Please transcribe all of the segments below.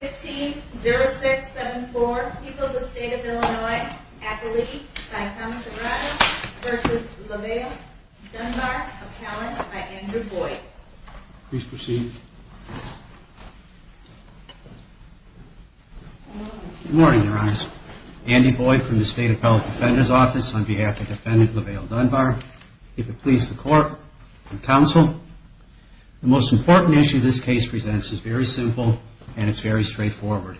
15 0674 people the state of Illinois at the league versus Lavelle Dunbar of challenge by Andrew Boyd. Please proceed. Good morning, your eyes. Andy Boyd from the State Appellate Defender's Office on behalf of Defendant Lavelle Dunbar. If it please the court and counsel, the most important issue this case presents is very simple and it's very straightforward.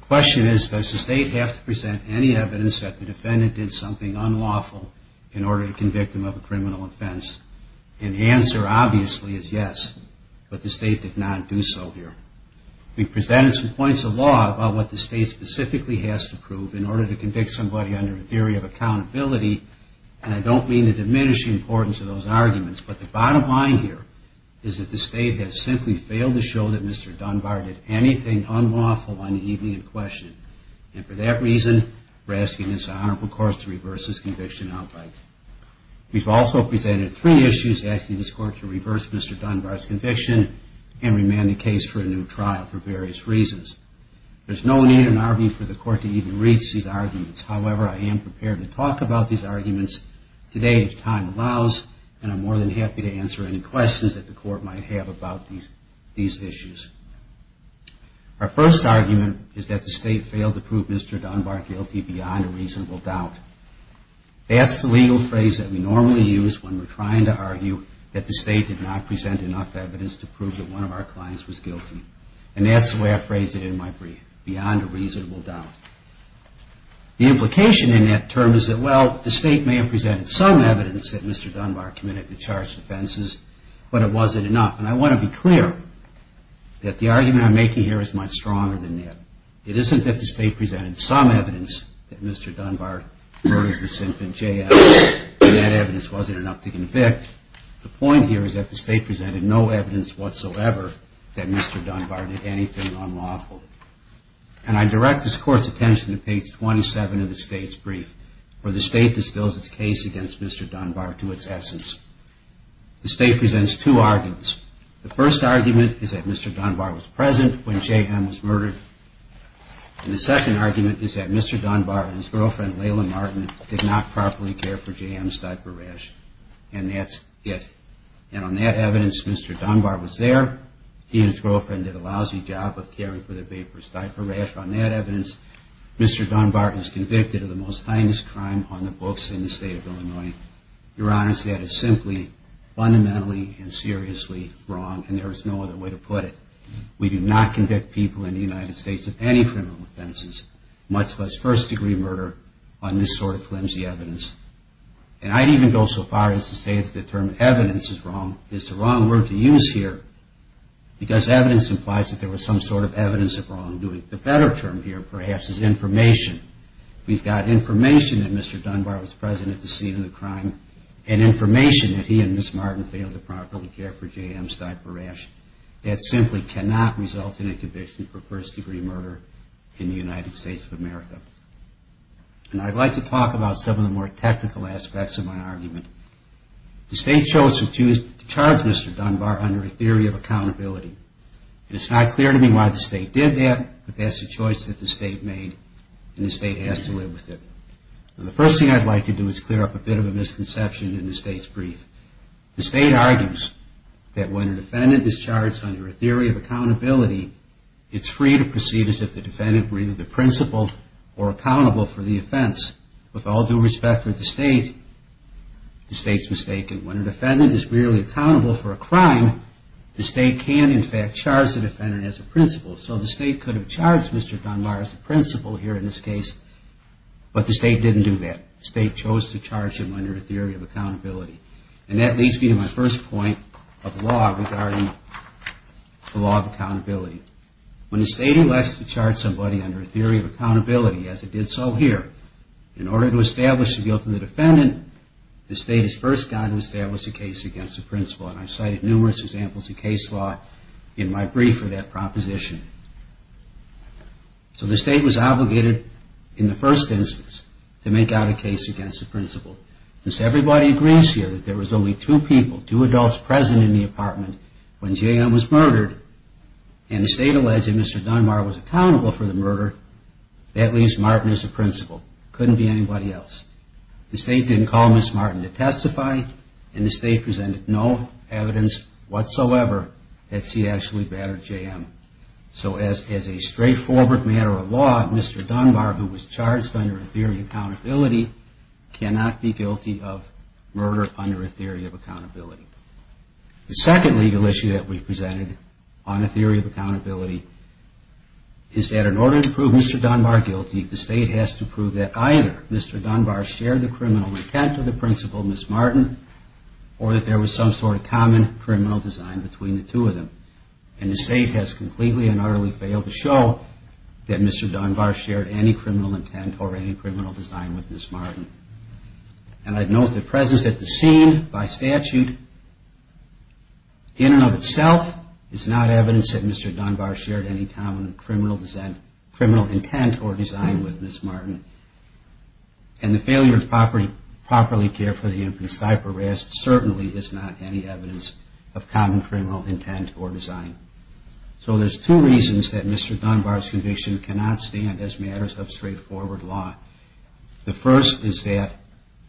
The question is, does the state have to present any evidence that the defendant did something unlawful in order to convict him of a criminal offense? And the answer obviously is yes, but the state did not do so here. We presented some points of law about what the state specifically has to prove in order to convict somebody under a theory of accountability. And I don't mean to diminish the importance of those arguments, but the bottom line here is that the state has simply failed to show that Mr. Dunbar did anything unlawful on the evening in question. And for that reason, we're asking this honorable court to reverse his conviction outright. We've also presented three issues asking this court to reverse Mr. Dunbar's conviction and remand the case for a new trial for various reasons. There's no need in our view for the court to even reach these arguments. However, I am prepared to talk about these arguments today if time allows, and I'm more than happy to answer any questions that the court might have about these issues. Our first argument is that the state failed to prove Mr. Dunbar guilty beyond a reasonable doubt. That's the legal phrase that we normally use when we're trying to argue that the state did not present enough evidence to prove that one of our clients was guilty. And that's the way I phrase it in my brief, beyond a reasonable doubt. The implication in that term is that, well, the state may have presented some evidence that Mr. Dunbar was guilty, but it wasn't enough. And I want to be clear that the argument I'm making here is much stronger than that. It isn't that the state presented some evidence that Mr. Dunbar murdered the symptom J.S., and that evidence wasn't enough to convict. The point here is that the state presented no evidence whatsoever that Mr. Dunbar did anything unlawful. And I direct this court's attention to page 27 of the state's brief, where the state distills its case against Mr. Dunbar to its essence. The state presents two arguments. The first argument is that Mr. Dunbar was present when J.M. was murdered. And the second argument is that Mr. Dunbar and his girlfriend, Layla Martin, did not properly care for J.M.'s diaper rash. And that's it. And on that evidence, Mr. Dunbar was there. He and his girlfriend did a lousy job of caring for their baby's diaper rash. On that evidence, Mr. Dunbar is convicted of the most heinous crime on the books in the state of Illinois. Your judgment is simply, fundamentally, and seriously wrong, and there is no other way to put it. We do not convict people in the United States of any criminal offenses, much less first-degree murder, on this sort of flimsy evidence. And I'd even go so far as to say that the term evidence is wrong is the wrong word to use here, because evidence implies that there was some sort of evidence of wrongdoing. The better term here, perhaps, is information. We've got information that Mr. Dunbar and Ms. Martin failed to care for J.M.'s diaper rash. That simply cannot result in a conviction for first-degree murder in the United States of America. And I'd like to talk about some of the more technical aspects of my argument. The state chose to charge Mr. Dunbar under a theory of accountability. And it's not clear to me why the state did that, but that's a choice that the state made, and the state has to live with it. The first thing I'd like to do is clear up a bit of a misconception in the state's brief. The state argues that when a defendant is charged under a theory of accountability, it's free to proceed as if the defendant were either the principal or accountable for the offense. With all due respect for the state, the state's mistaken. When a defendant is merely accountable for a crime, the state can, in fact, charge the defendant as a principal. So the state could have charged Mr. Dunbar as a principal here in this case, but the state has to charge him under a theory of accountability. And that leads me to my first point of law regarding the law of accountability. When the state elects to charge somebody under a theory of accountability, as it did so here, in order to establish the guilt of the defendant, the state is first bound to establish a case against the principal. And I've cited numerous examples of case law in my brief for that proposition. So the state was obligated in the first instance to make out a case against the principal. Since everybody agrees here that there was only two people, two adults present in the apartment when J.M. was murdered, and the state alleged that Mr. Dunbar was accountable for the murder, that leaves Martin as the principal. Couldn't be anybody else. The state didn't call Ms. Martin to testify, and the state presented no evidence whatsoever that she actually battered J.M. So as a straightforward matter of law, Mr. Dunbar, under a theory of accountability, cannot be guilty of murder under a theory of accountability. The second legal issue that we presented on a theory of accountability is that in order to prove Mr. Dunbar guilty, the state has to prove that either Mr. Dunbar shared the criminal intent of the principal, Ms. Martin, or that there was some sort of common criminal design between the two of them. And the state has completely and utterly failed to show that Mr. Dunbar shared any criminal intent or any criminal design with Ms. Martin. And I'd note the presence at the scene by statute, in and of itself, is not evidence that Mr. Dunbar shared any common criminal intent or design with Ms. Martin. And the failure to properly care for the infant's diaper rest certainly is not any evidence of common criminal intent or design. So there's two reasons that Mr. Dunbar's conviction cannot stand as matters of straightforward law. The first is that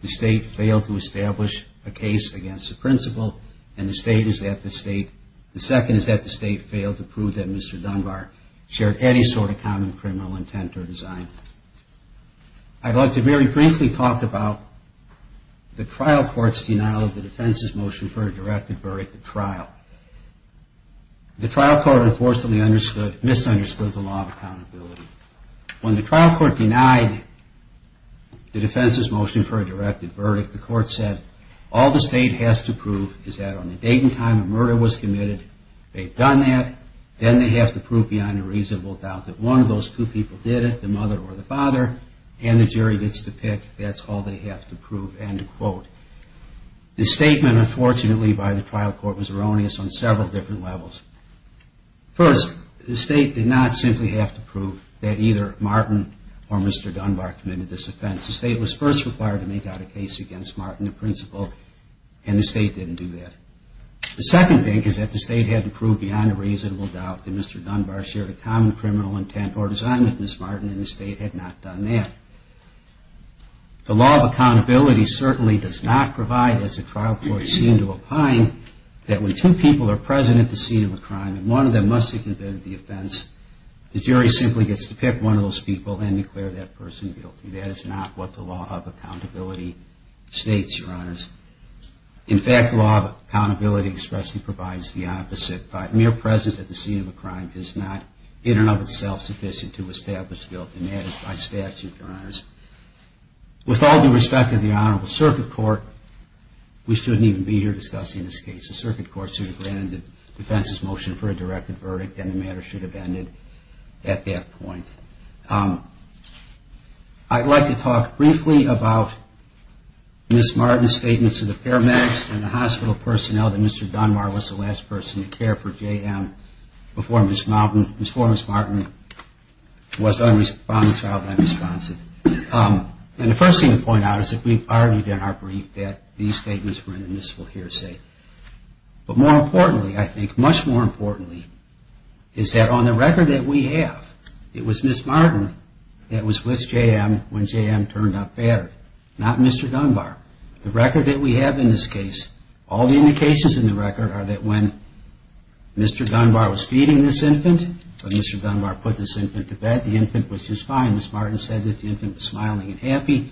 the state failed to establish a case against the principal, and the state is that the state, the second is that the state failed to prove that Mr. Dunbar shared any sort of common criminal intent or design. I'd like to very briefly talk about the trial court's denial of the defense's motion for a directive verdict at trial. The trial court unfortunately misunderstood the law of accountability. When the trial court denied the defense's motion for a directive verdict, the court said, all the state has to prove is that on the date and time the murder was committed, they've done that, then they have to prove beyond a reasonable doubt that one of those two people did it, the mother or the father, and the jury gets to pick. That's all they have to prove, end quote. The statement, unfortunately, by the trial court was erroneous on several different levels. First, the state did not simply have to prove that either Martin or Mr. Dunbar committed this offense. The state was first required to make out a case against Martin, the principal, and the state didn't do that. The second thing is that the state hadn't proved beyond a reasonable doubt that Mr. Dunbar shared a common criminal intent or design with Miss Martin, and the state had not done that. The law of accountability certainly does not provide, as the trial court seemed to opine, that when two people are present at the scene of a crime and one of them must have committed the offense, the jury simply gets to pick one of those people and declare that person guilty. That is not what the law of accountability states, Your Honors. In fact, the law of accountability expressly provides the opposite. Mere presence at the scene of a crime is not in and of itself sufficient to establish guilt, and that is by statute, Your We shouldn't even be here discussing this case. The circuit court should have granted the defense's motion for a directed verdict and the matter should have ended at that point. I'd like to talk briefly about Miss Martin's statements to the paramedics and the hospital personnel that Mr. Dunbar was the last person to care for JM before Miss Martin was unresponsive. And the first thing to point out is that we've argued in our brief that these statements were in the municipal hearsay. But more importantly, I think, much more importantly, is that on the record that we have, it was Miss Martin that was with JM when JM turned up battered, not Mr. Dunbar. The record that we have in this case, all the indications in the record are that when Mr. Dunbar was feeding this infant or Mr. Dunbar put this infant to bed, the infant was just fine. Miss Martin said that the infant was smiling and happy.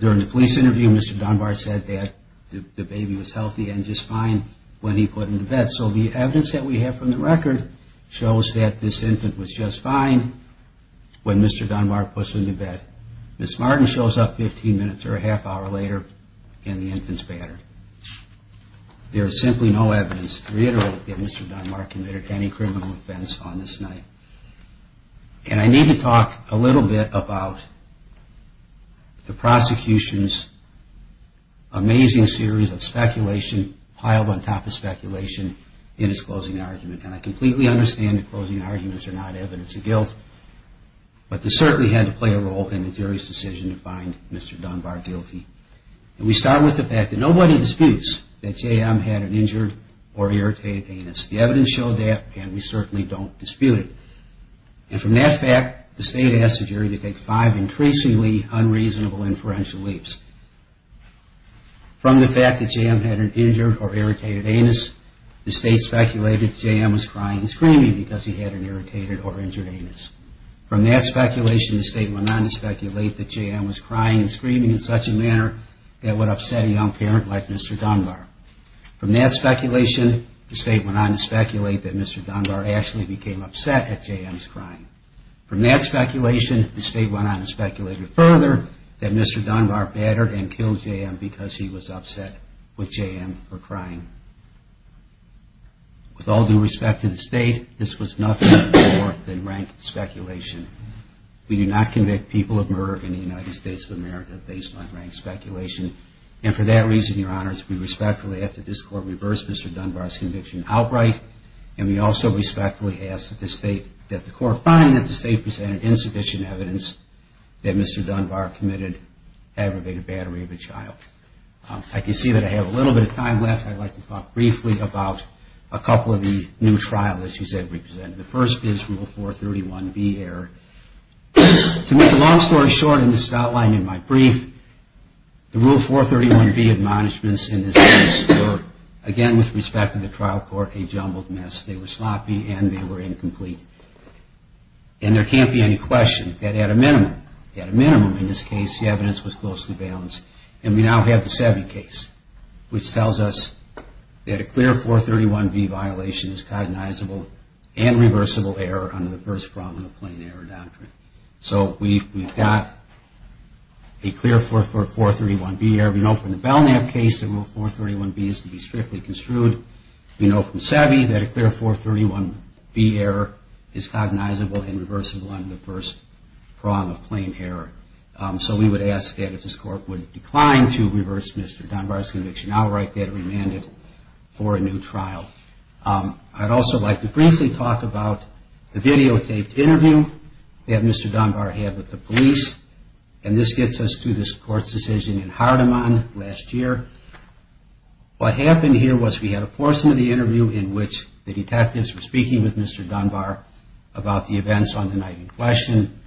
During the police interview, Mr. Dunbar said that the baby was healthy and just fine when he put him to bed. So the evidence that we have from the record shows that this infant was just fine when Mr. Dunbar put him to bed. Miss Martin shows up 15 minutes or a half hour later and the infant's battered. There is simply no evidence to reiterate that Mr. Dunbar committed any criminal offense on this night. And I need to talk a little bit about the prosecution's amazing series of speculation piled on top of speculation in its closing argument. And I completely understand that closing arguments are not evidence of guilt, but they certainly had to play a role in the jury's decision to find Mr. Dunbar guilty. And we start with the fact that nobody disputes that JM had an injured or irritated anus. The evidence showed that and we certainly don't five increasingly unreasonable inferential leaps. From the fact that JM had an injured or irritated anus, the state speculated that JM was crying and screaming because he had an irritated or injured anus. From that speculation, the state went on to speculate that JM was crying and screaming in such a manner that would upset a young parent like Mr. Dunbar. From that speculation, the state went on to speculate that Mr. Dunbar actually became upset at JM's crying. From that speculation, the state went on to speculate further that Mr. Dunbar battered and killed JM because he was upset with JM for crying. With all due respect to the state, this was nothing more than rank speculation. We do not convict people of murder in the United States of America based on rank speculation. And for that reason, Your Honors, we respectfully ask that this Court reverse Mr. Dunbar's conviction outright. And we also respectfully ask that the Court find that the state presented insufficient evidence that Mr. Dunbar committed aggravated battery of a child. I can see that I have a little bit of time left. I'd like to talk briefly about a couple of the new trials that you said we presented. The first is Rule 431B error. To make a long story short, and this is outlined in my brief, the Rule 431B admonishments in this case were, again with respect to the trial court, a jumbled mess. They were sloppy and they were incomplete. And there can't be any question that at a minimum, at a minimum in this case, the evidence was closely balanced. And we now have the Sevey case, which tells us that a clear 431B violation is cognizable and reversible error under the first problem of plain error doctrine. So we've got a clear 431B error. We know from the Belknap case that Rule 431B is to be strictly construed. We know from Sevey that a clear 431B error is cognizable and reversible under the first prong of plain error. So we would ask that if this court would decline to reverse Mr. Dunbar's conviction, I'll write that remanded for a new trial. I'd also like to briefly talk about the videotaped interview that Mr. Dunbar had with the police. And this gets us to this court's decision in Hardeman last year. What happened here was we had a portion of the interview in which the detectives were speaking with Mr. Dunbar about the events on the night in question.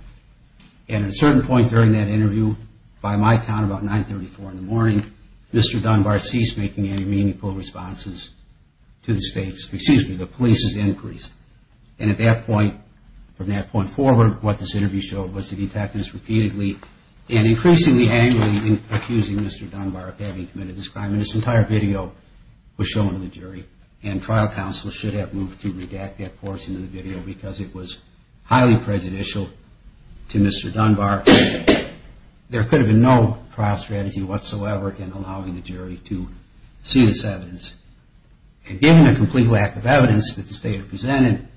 And at a certain point during that interview, by my count about 934 in the morning, Mr. Dunbar ceased making any meaningful responses to the state's, excuse me, the police's increase. And at that point, from that point forward, what this interview showed was the detectives repeatedly and repeatedly committed this crime. And this entire video was shown to the jury. And trial counsel should have moved to redact that portion of the video because it was highly prejudicial to Mr. Dunbar. There could have been no trial strategy whatsoever in allowing the jury to see this evidence. And given the complete lack of evidence that the state had presented,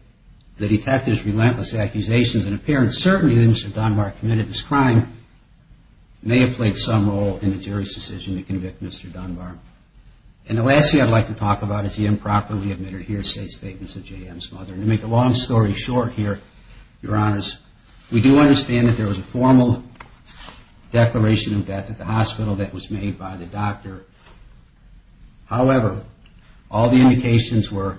the detectives' relentless accusations and apparent certainty that Mr. Dunbar committed this crime may have played some role in the jury's decision to convict Mr. Dunbar. And the last thing I'd like to talk about is the improperly admitted here state statements of J.M.'s mother. And to make a long story short here, Your Honors, we do understand that there was a formal declaration of death at the hospital that was made by the doctor. However, all the indications were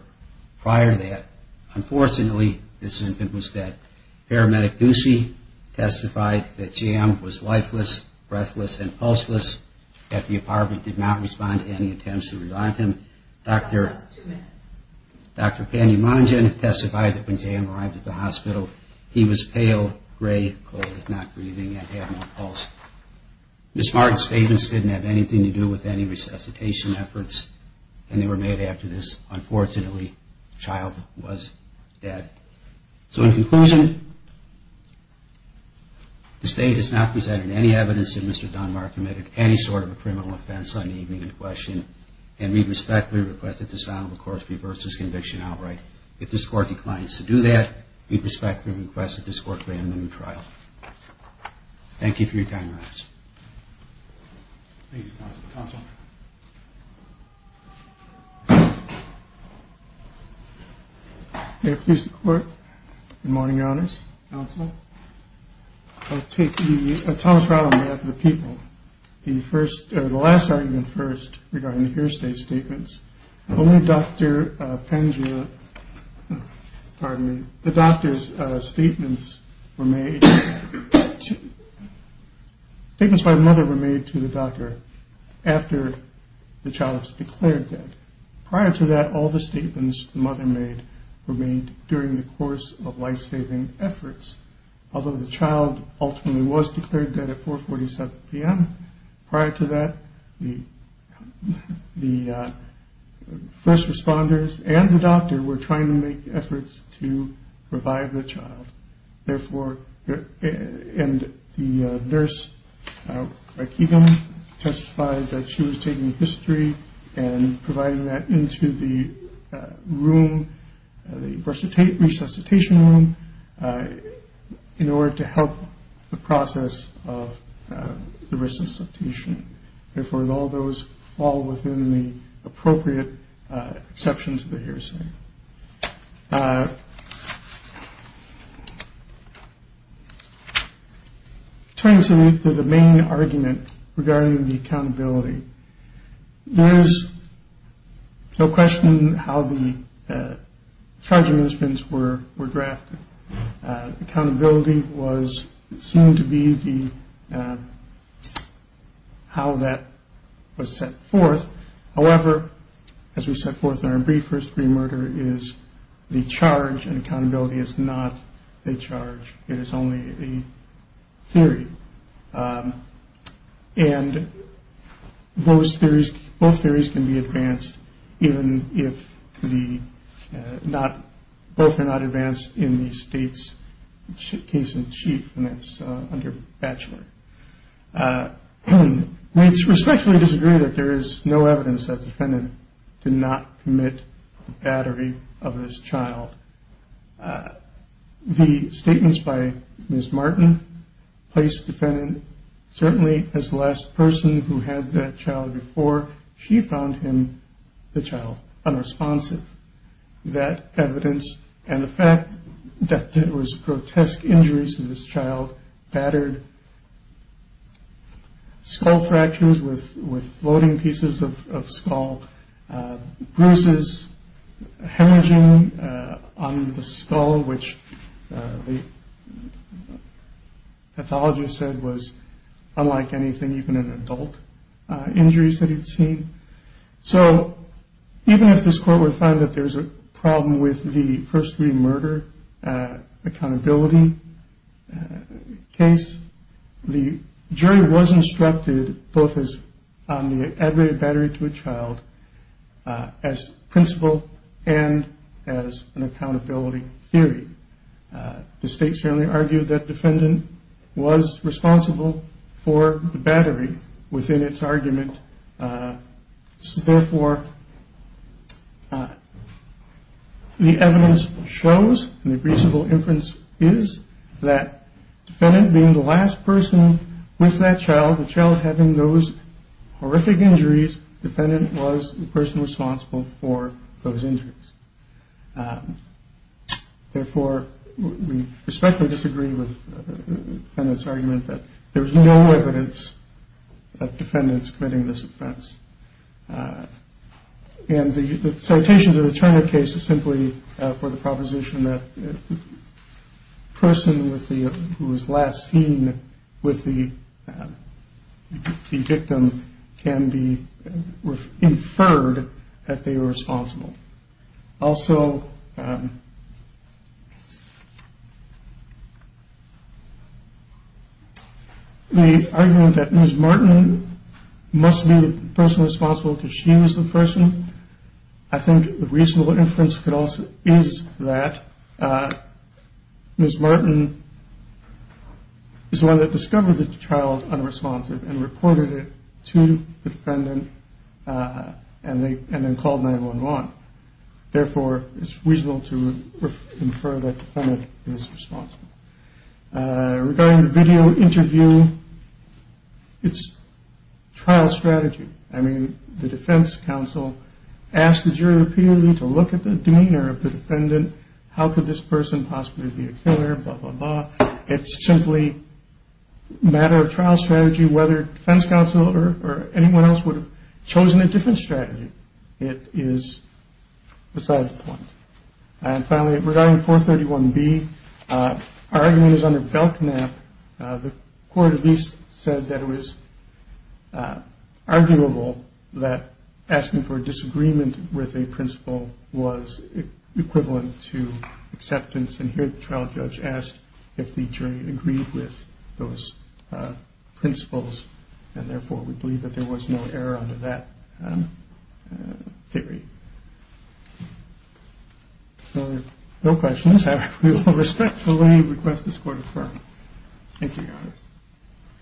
prior to that, unfortunately, this infant was dead. Paramedic Goosey testified that J.M. was lifeless, breathless, and pulseless at the apartment, did not respond to any attempts to revive him. Dr. Pandy Mangin testified that when J.M. arrived at the hospital, he was pale gray, cold, not breathing, and had no pulse. Ms. Martin's statements didn't have anything to do with any resuscitation efforts, and they were made after this. Unfortunately, the child was dead. So in any evidence that Mr. Dunbar committed any sort of a criminal offense on the evening in question, and we respectfully request that this Honorable Court reverse this conviction outright. If this Court declines to do that, we respectfully request that this Court grant him a new trial. Thank you for your time, Your Honors. Thank you, Counselor. May it please the Court, good morning, Your Honors, Counselor. I'll take the Thomas Rattleman of the people. The first, or the last argument first regarding the hearsay statements, only Dr. Pandya, pardon me, the doctor's statements were made, statements by the mother were made to the doctor after the child was declared dead. Prior to that, all the statements the mother made were made during the course of life-saving efforts. Although the child ultimately was declared dead at 4.47 p.m., prior to that, the first responders and the doctor were trying to make efforts to revive the child. Therefore, and the nurse testified that she was taking history and providing that into the room, the resuscitation room, in order to help the process of the resuscitation. Therefore, all those fall within the terms of the main argument regarding the accountability. There is no question how the charges were drafted. Accountability was seen to be the, how that was set forth. However, as we set forth in our brief, first degree murder is the charge and accountability is not a charge. It is only a theory. And both theories can be advanced, even if the, both are not advanced in the state's case in chief, and that's under Batchelor. We respectfully disagree that there is no evidence that the defendant did not commit the battery of his child. The statements by Ms. Martin placed the defendant, certainly as the last person who had that child before, she found him, the child, unresponsive. That evidence and the fact that there was grotesque injuries to this child, battered skull fractures with floating pieces of skull, bruises, hemorrhaging on the skull, which the pathologist said was unlike anything, even in adult injuries that he'd seen. So even if this court were to find that there was a problem with the first degree murder accountability case, the state argued that the defendant was responsible for the battery within its argument. So therefore, the evidence shows and the reasonable inference is that the defendant being the last person with that child, horrific injuries, the defendant was the person responsible for those injuries. Therefore, we respectfully disagree with the defendant's argument that there was no evidence of defendants committing this offense. And the citation to the Turner case is simply for the proposition that the person who was last seen with the victim can be inferred that they were responsible. Also, the argument that Ms. Martin must be the person responsible because she was the person, I think the reasonable inference is that Ms. Martin is the one that discovered that the child was unresponsive and reported it to the defendant and then called 911. Therefore, it's reasonable to infer that the defendant is responsible. Regarding the video interview, it's trial strategy. I mean, the defense counsel asked the jury repeatedly to look at the demeanor of the defendant, how could this person possibly be a killer, blah, blah, blah. It's simply matter of trial strategy whether defense counsel or anyone else would have chosen a different strategy. It is beside the point. And finally, regarding 431B, our argument is under Belknap. The court at least said that it was arguable that asking for disagreement with a principle was equivalent to acceptance. And here the trial judge asked if the jury agreed with those principles. And therefore, we believe that there was no error under that theory. So, no questions. I respectfully request this court affirm. Thank you, Your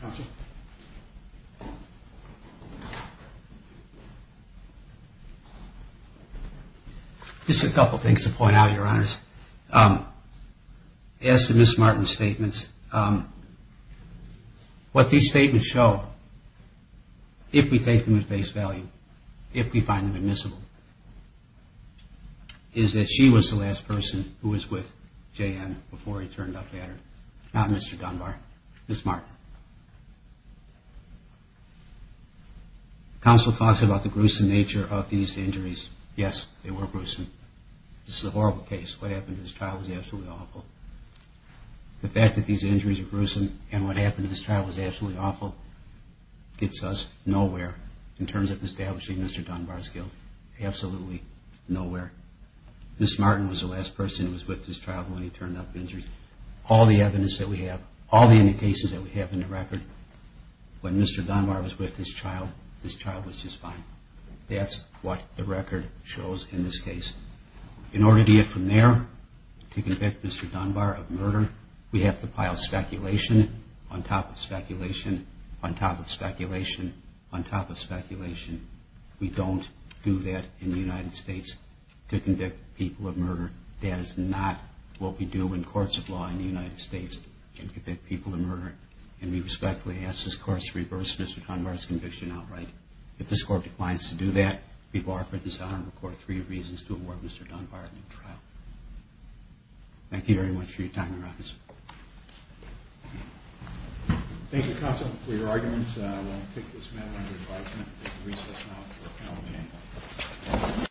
Honor. Just a couple things to point out, Your Honor. As to Ms. Martin's statements, what these statements show, if we take them at face value, if we find them admissible, is that she was the last person who was with J.N. before he turned up, Mr. Dunbar. Ms. Martin. Counsel talks about the gruesome nature of these injuries. Yes, they were gruesome. This is a horrible case. What happened to this child was absolutely awful. The fact that these injuries are gruesome and what happened to this child was absolutely awful gets us nowhere in terms of establishing Mr. Dunbar's guilt. Absolutely nowhere. Ms. Martin was the last person who was with this child when he turned up injured. All the evidence that we have, all the cases that we have in the record, when Mr. Dunbar was with this child, this child was just fine. That's what the record shows in this case. In order to get from there to convict Mr. Dunbar of murder, we have to pile speculation on top of speculation, on top of speculation, on top of speculation. We don't do that in the United States to convict people of murder. That is not what we do in courts of law in the United States to convict people of murder. And we respectfully ask this Court to reverse Mr. Dunbar's conviction outright. If this Court declines to do that, we bar for this Honorable Court three reasons to award Mr. Dunbar a new trial. Thank you very much for your time, Your Honor. Thank you, Counsel, for your arguments. I will take this matter under advisement and recess now until the panel can go.